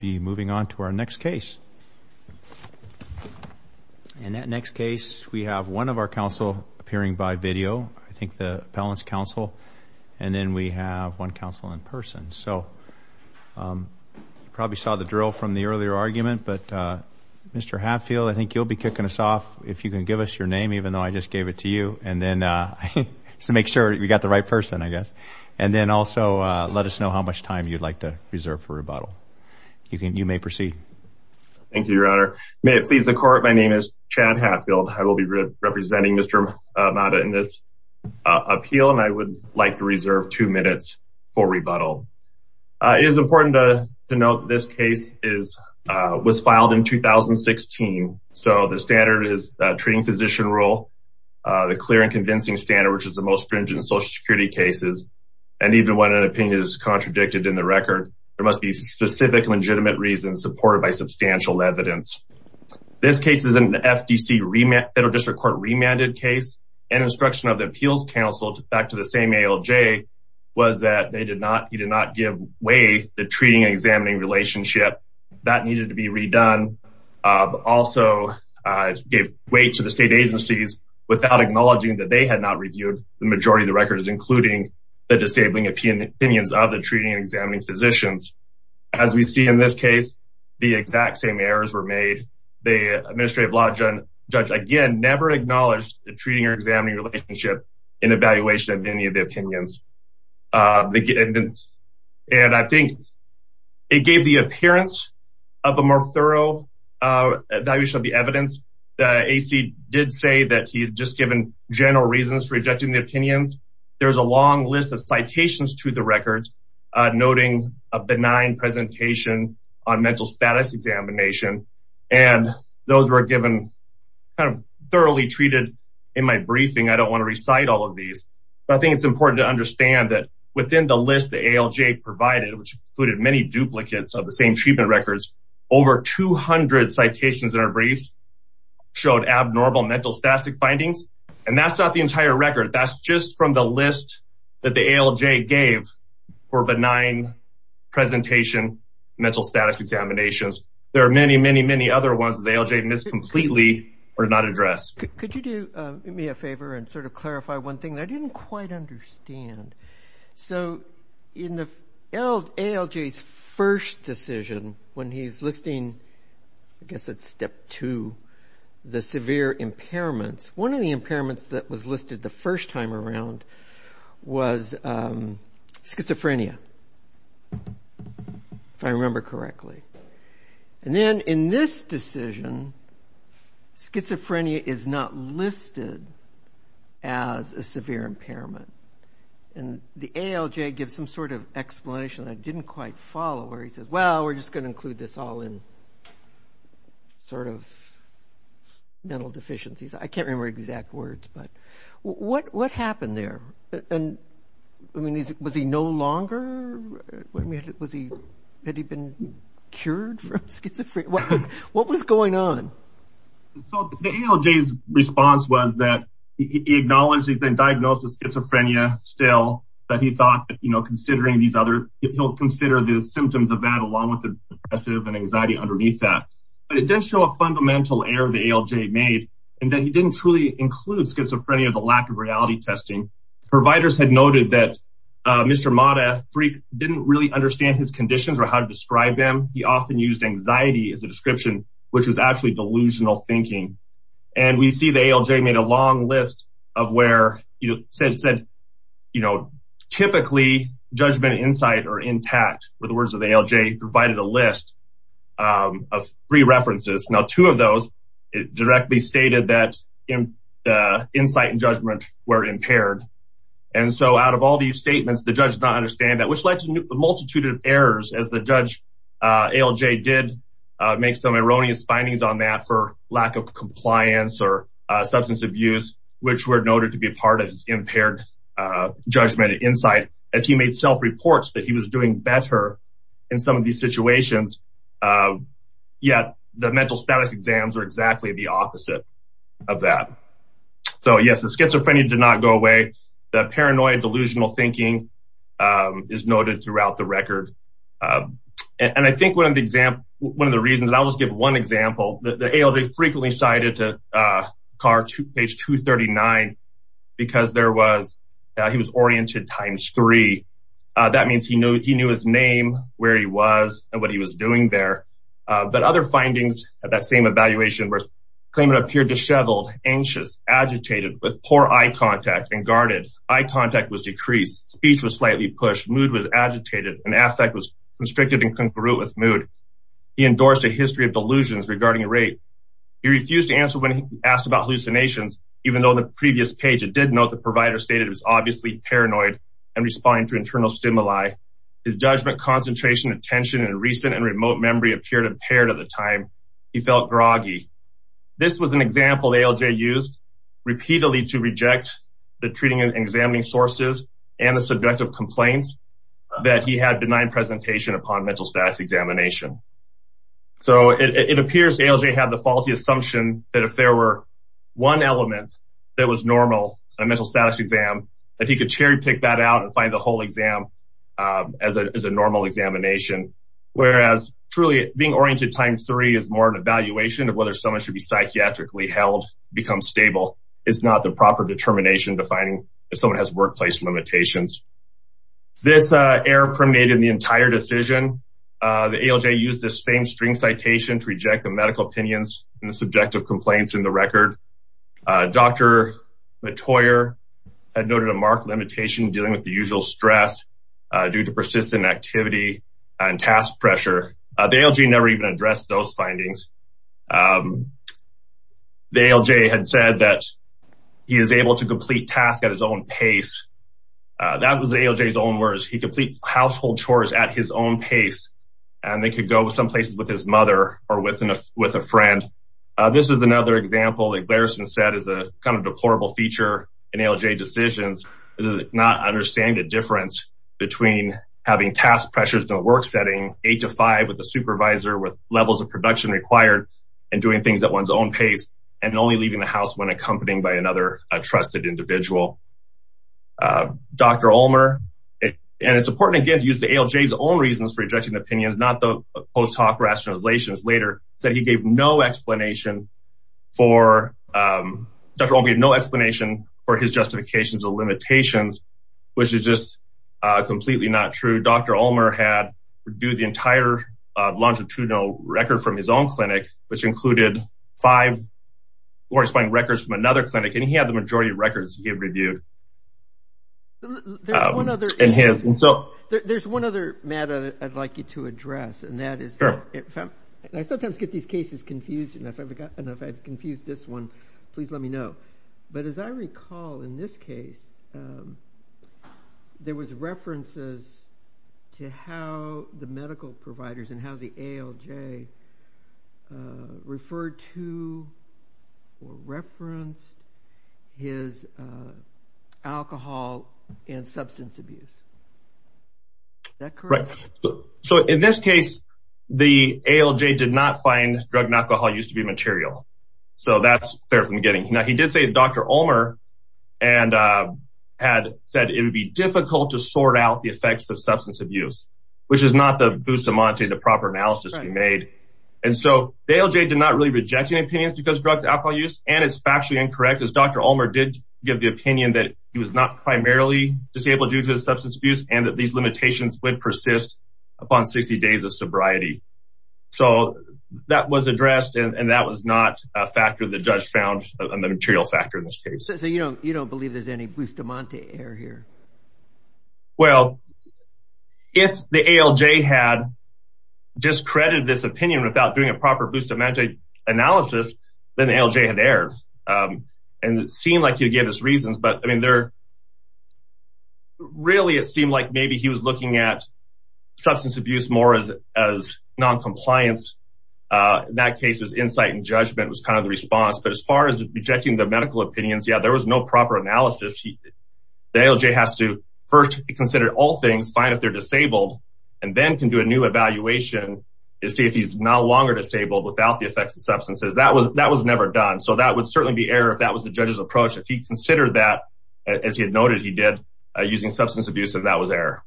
be moving on to our next case. In that next case, we have one of our counsel appearing by video, I think the appellant's counsel. And then we have one counsel in person. So you probably saw the drill from the earlier argument, but Mr. Hatfield, I think you'll be kicking us off if you can give us your name, even though I just gave it to you. And then just to make sure we got the right person, I guess. And then also let us know how much time you'd like to reserve for rebuttal. You may proceed. Thank you, Your Honor. May it please the court. My name is Chad Hatfield. I will be representing Mr. Mata in this appeal, and I would like to reserve two minutes for rebuttal. It is important to note this case was filed in 2016. So the standard is treating physician rule, the clear and convincing standard, which is the most stringent in Social Security cases. And even when an opinion is contradicted in the record, there must be specific legitimate reasons supported by substantial evidence. This case is an FDC federal district court remanded case and instruction of the appeals counsel back to the same ALJ was that they did not, he did not give way the treating and examining relationship that needed to be redone, but also gave way to the state agencies without acknowledging that they had not reviewed the majority of the records, including the disabling opinions of the treating and examining physicians. As we see in this case, the exact same errors were made. The administrative law judge, again, never acknowledged the treating or examining relationship in evaluation of any of the opinions. And I think it gave the appearance of a more thorough evaluation of the evidence. The AC did say that he had just given general reasons for rejecting the opinions. There's a long list of citations to the records, noting a benign presentation on mental status examination and those were given kind of thoroughly treated in my briefing. I don't want to recite all of these, but I think it's important to understand that within the list, the ALJ provided, which included many duplicates of the same treatment records, over 200 citations in our briefs showed abnormal mental static findings. And that's not the entire record. That's just from the list that the ALJ gave for benign presentation, mental status examinations. There are many, many, many other ones that the ALJ missed completely or not addressed. Could you do me a favor and sort of clarify one thing that I didn't quite understand? So in the ALJ's first decision when he's listing, I guess it's step two, the severe impairments, one of the impairments that was listed the first time around was schizophrenia, if I remember correctly. And then in this decision, schizophrenia is not listed as a severe impairment. And the ALJ gives some sort of explanation I didn't quite follow where he says, well, we're just going to include this all in sort of mental deficiencies. I can't remember exact words, but what happened there? And I mean, was he no longer? Was he, had he been cured from schizophrenia? What was going on? So the ALJ's response was that he acknowledged he's been diagnosed with schizophrenia still, but he thought that, you know, considering these other, he'll consider the symptoms of that along with the depressive and anxiety underneath that. But it does show a fundamental error the ALJ made, and that he didn't truly include schizophrenia, the lack of reality testing. Providers had noted that Mr. Mata didn't really understand his conditions or how to describe them. He often used anxiety as a description, which was actually delusional thinking. And we see the ALJ made a long list of where, you know, said, you know, typically judgment insight are intact with the words of the ALJ provided a list of three references. Now, two of those directly stated that insight and judgment were impaired. And so out of all these statements, the judge did not understand that, which led to a multitude of errors as the judge ALJ did make some erroneous findings on that for lack of compliance or substance abuse, which were noted to be a part of his impaired judgment insight as he made self reports that he was doing better in some of these situations. Yet, the mental status exams are exactly the opposite of that. So yes, the schizophrenia did not go away. That paranoid delusional thinking is noted throughout the record. And I think one of the example, one of the reasons I'll just give one example, the ALJ frequently cited to car to page 239, because there was, he was oriented times three. That means he knew, he knew his name, where he was and what he was doing there. But other findings at that same evaluation, where claimant appeared disheveled, anxious, agitated with poor eye contact and guarded eye contact was decreased. Speech was slightly pushed. Mood was agitated and affect was constricted and congruent with mood. He endorsed a history of delusions regarding rape. He refused to answer when he asked about hallucinations, even though the previous page, it did note the provider stated it was obviously paranoid and responding to internal stimuli. His judgment, concentration, attention, and recent and remote memory appeared impaired at the time he felt groggy. This was an example ALJ used repeatedly to reject the treating and examining sources and the subjective complaints that he had benign presentation upon mental status examination. So it appears ALJ had the faulty assumption that if there were one element that was normal in a mental status exam, that he could cherry pick that out and find the whole exam as a normal examination. Whereas truly being oriented times three is more of an evaluation of whether someone should be psychiatrically held, become stable, is not the proper determination defining if someone has workplace limitations. This error permeated the entire decision. The ALJ used the same string citation to reject the medical opinions and the subjective complaints in the record. Dr. Mottoyer had noted a marked limitation dealing with the usual stress due to persistent activity and task pressure. The ALJ never even addressed those findings. The ALJ had said that he is able to complete tasks at his own pace. That was ALJ's own words. He complete household chores at his own pace. And they could go with some places with his mother or with a friend. This is another example that Glarison said is a kind of deplorable feature in ALJ decisions is not understanding the difference between having task pressures in a work setting eight to five with a supervisor with levels of production required and doing things at one's own pace and only leaving the house when accompanied by another trusted individual. Dr. Ulmer, and it's important again to use the ALJ's own reasons for rejecting the opinions, not the post hoc rationalizations later, said he gave no explanation for, Dr. Ulmer gave no explanation for his justifications or limitations, which is just completely not true. Dr. Ulmer had reviewed the entire longitudinal record from his own clinic, which included five corresponding records from another clinic. There's one other matter I'd like you to address, and that is, I sometimes get these cases confused. And if I've confused this one, please let me know. But as I recall in this case, there was references to how the medical providers and how the ALJ referred to or referenced his alcohol and substance abuse. Is that correct? So in this case, the ALJ did not find drug and alcohol used to be material. So that's fair from the beginning. Now he did say Dr. Ulmer had said it would be difficult to sort out the effects of substance abuse, which is not the bustamante, the proper analysis he made. And so the ALJ did not really reject any opinions because drugs, alcohol use, and it's factually incorrect, as Dr. Ulmer did give the opinion that he was not primarily disabled due to the substance abuse and that these limitations would persist upon 60 days of sobriety. So that was addressed, and that was not a factor the judge found a material factor in this case. So you don't believe there's any bustamante error here? Well, if the ALJ had discredited this opinion without doing a proper bustamante analysis, then the ALJ had erred. And it seemed like he gave his reasons, but I mean, really it seemed like maybe he was looking at substance abuse more as noncompliance. In that case, it was insight and judgment was kind of the response. But as far as rejecting the medical opinions, yeah, there was no proper analysis. The ALJ has to first consider all things, find if they're disabled, and then can do a new evaluation to see if he's no longer disabled without the effects of substances. That was never done. So that would certainly be error if that was the judge's approach. If he considered that, as he had noted he did, using substance abuse, then that was error.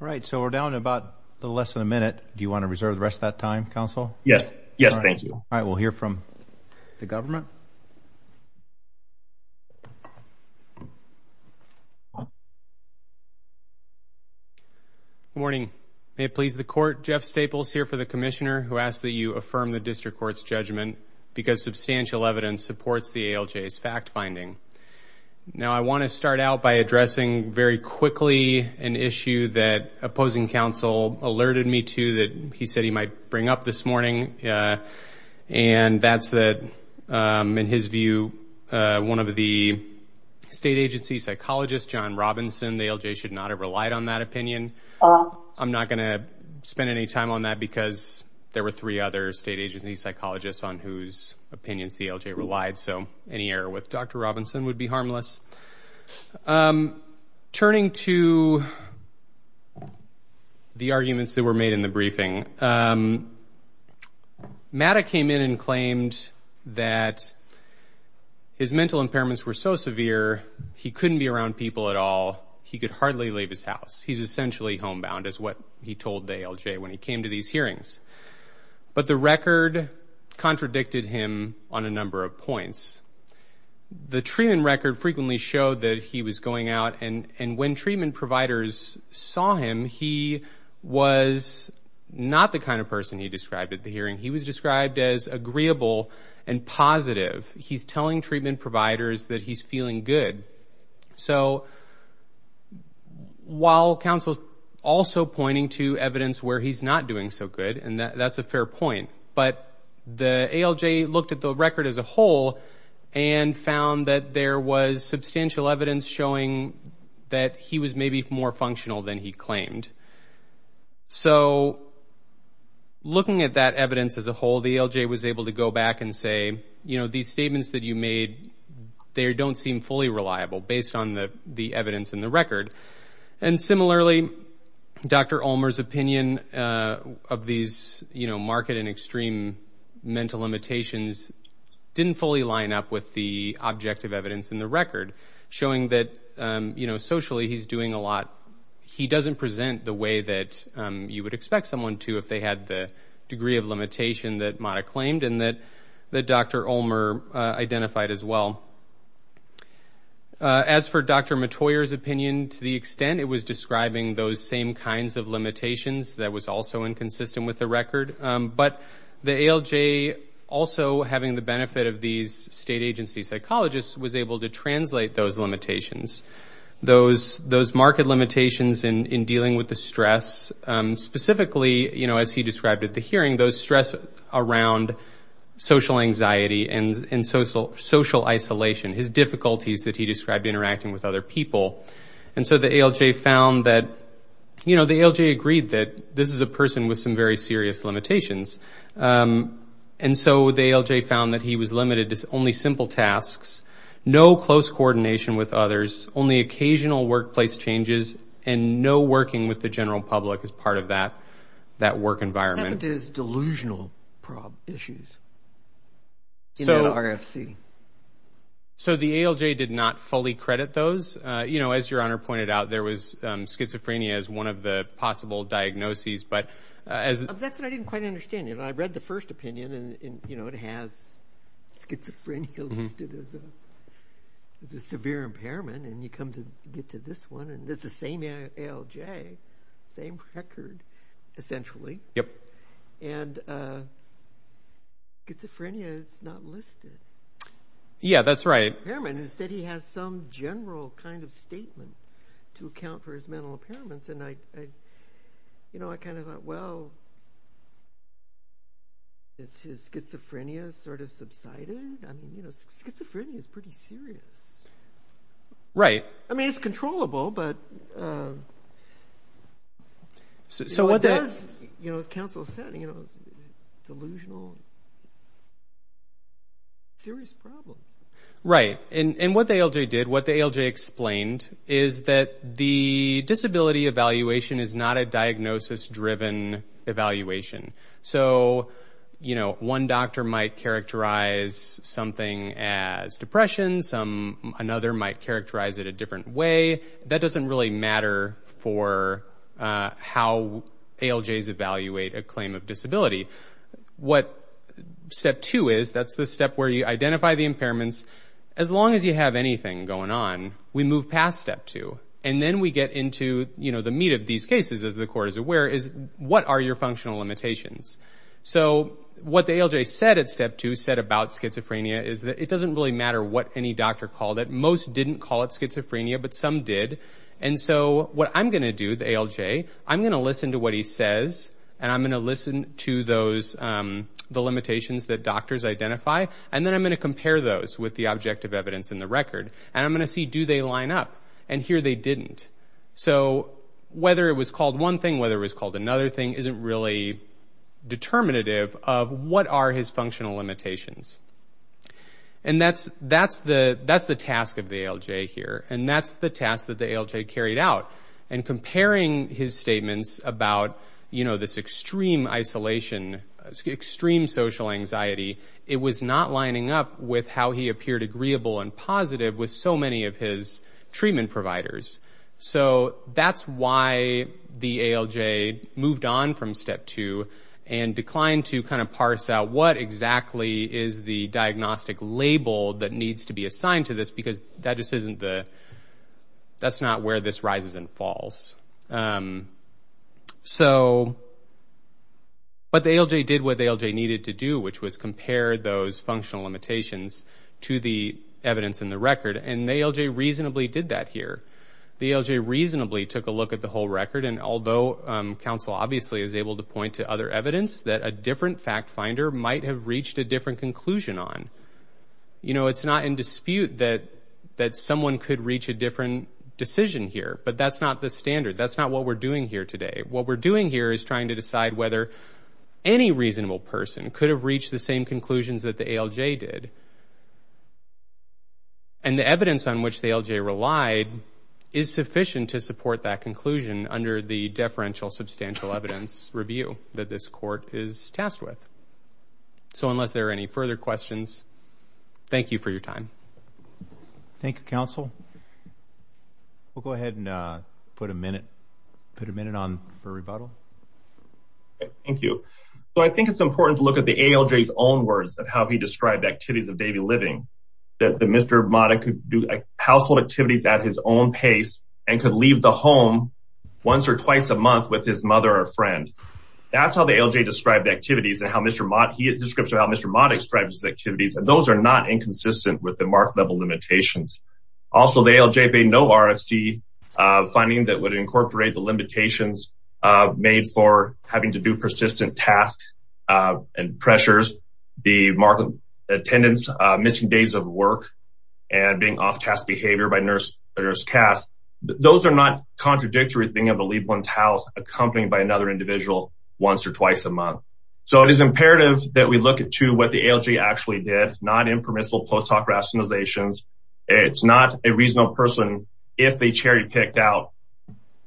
All right. So we're down to about a little less than a minute. Do you want to reserve the rest of that time, counsel? Yes. Yes, thank you. All right. We'll hear from the government. Good morning. May it please the Court, Jeff Staples here for the Commissioner, who asks that you affirm the District Court's judgment because substantial evidence supports the ALJ's fact finding. Now, I want to start out by addressing very quickly an issue that opposing counsel alerted me to that he said he might bring up this morning, and that's that, in his view, one of the state agency psychologists, John Robinson, the ALJ should not have relied on that opinion. I'm not going to spend any time on that because there were three other state agency psychologists on whose opinions the ALJ relied, so any error with Dr. Robinson would be harmless. Turning to the arguments that were made in the briefing, Matta came in and claimed that his mental impairments were so severe he couldn't be around people at all. He could hardly leave his house. He's essentially homebound is what he told the ALJ when he came to these hearings. But the record contradicted him on a number of points. The treatment record frequently showed that he was going out, and when treatment providers saw him, he was not the kind of person he described at the hearing. He was described as agreeable and positive. He's telling treatment providers that he's feeling good. So while counsel's also pointing to evidence where he's not doing so good, and that's a fair point, but the ALJ looked at the record as a whole and found that there was substantial evidence showing that he was maybe more functional than he claimed. So looking at that evidence as a whole, the ALJ was able to go back and say, you know, these statements that you made, they don't seem fully reliable based on the evidence in the record. And similarly, Dr. Ulmer's opinion of these, you know, market and extreme mental limitations didn't fully line up with the objective evidence in the record, showing that, you know, socially he's doing a lot. He doesn't present the way that you would expect someone to if they had the degree of limitation that Mata claimed and that Dr. Ulmer identified as well. As for Dr. Matoyer's opinion, to the extent it was describing those same kinds of limitations, that was also inconsistent with the record. But the ALJ also having the benefit of these state agency psychologists was able to translate those limitations. Those market limitations in dealing with the stress, specifically, you know, as he described at the hearing, those stress around social anxiety and social isolation, his difficulties that he described interacting with other people. And so the ALJ found that, you know, the ALJ agreed that this is a person with some very serious limitations. And so the ALJ found that he was limited to only simple tasks, no close coordination with others, only occasional workplace changes, and no working with the general public as part of that work environment. What happened to his delusional issues in that RFC? So the ALJ did not fully credit those. You know, as Your Honor pointed out, there was schizophrenia as one of the possible diagnoses. That's what I didn't quite understand. I read the first opinion, and, you know, it has schizophrenia listed as a severe impairment, and you come to get to this one, and it's the same ALJ, same record, essentially. And schizophrenia is not listed. Yeah, that's right. Instead, he has some general kind of statement to account for his mental impairments. And, you know, I kind of thought, well, is his schizophrenia sort of subsided? I mean, you know, schizophrenia is pretty serious. Right. I mean, it's controllable, but what does, you know, as counsel said, delusional, serious problems. Right, and what the ALJ did, what the ALJ explained, is that the disability evaluation is not a diagnosis-driven evaluation. So, you know, one doctor might characterize something as depression. Another might characterize it a different way. That doesn't really matter for how ALJs evaluate a claim of disability. What step two is, that's the step where you identify the impairments. As long as you have anything going on, we move past step two, and then we get into, you know, the meat of these cases, as the Court is aware, is what are your functional limitations? So what the ALJ said at step two, said about schizophrenia, is that it doesn't really matter what any doctor called it. Most didn't call it schizophrenia, but some did. And so what I'm going to do, the ALJ, I'm going to listen to what he says, and I'm going to listen to those, the limitations that doctors identify, and then I'm going to compare those with the objective evidence in the record. And I'm going to see, do they line up? And here they didn't. So whether it was called one thing, whether it was called another thing, isn't really determinative of what are his functional limitations. And that's the task of the ALJ here, and that's the task that the ALJ carried out. And comparing his statements about, you know, this extreme isolation, extreme social anxiety, it was not lining up with how he appeared agreeable and positive with so many of his treatment providers. So that's why the ALJ moved on from step two and declined to kind of parse out what exactly is the diagnostic label that needs to be assigned to this, because that just isn't the – that's not where this rises and falls. So but the ALJ did what the ALJ needed to do, which was compare those functional limitations to the evidence in the record, and the ALJ reasonably did that here. The ALJ reasonably took a look at the whole record, and although counsel obviously is able to point to other evidence, that a different fact finder might have reached a different conclusion on. You know, it's not in dispute that someone could reach a different decision here, but that's not the standard. That's not what we're doing here today. What we're doing here is trying to decide whether any reasonable person could have reached the same conclusions that the ALJ did. And the evidence on which the ALJ relied is sufficient to support that conclusion under the deferential substantial evidence review that this court is tasked with. So unless there are any further questions, thank you for your time. Thank you, counsel. We'll go ahead and put a minute on for rebuttal. Thank you. So I think it's important to look at the ALJ's own words of how he described activities of daily living, that Mr. Modick could do household activities at his own pace and could leave the home once or twice a month with his mother or friend. That's how the ALJ described the activities and how Mr. Modick described his activities, and those are not inconsistent with the mark-level limitations. Also, the ALJ made no RFC finding that would incorporate the limitations made for having to do persistent tasks and pressures, the mark-level attendance, missing days of work, and being off-task behavior by nurse or nurse cast. Those are not contradictory to being able to leave one's house accompanied by another individual once or twice a month. So it is imperative that we look at, too, what the ALJ actually did, non-impermissible post hoc rationalizations. It's not a reasonable person if they cherry-picked out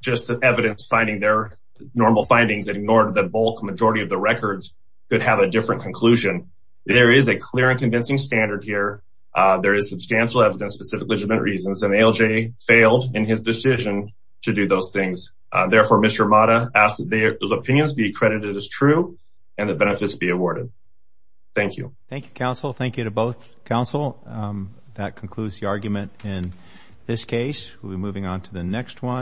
just the evidence finding their normal findings and ignored the bulk majority of the records that have a different conclusion. There is a clear and convincing standard here. There is substantial evidence for specific legitimate reasons, and the ALJ failed in his decision to do those things. Therefore, Mr. Modick asks that those opinions be credited as true and that benefits be awarded. Thank you. Thank you, counsel. Thank you to both counsel. That concludes the argument in this case. We'll be moving on to the next one.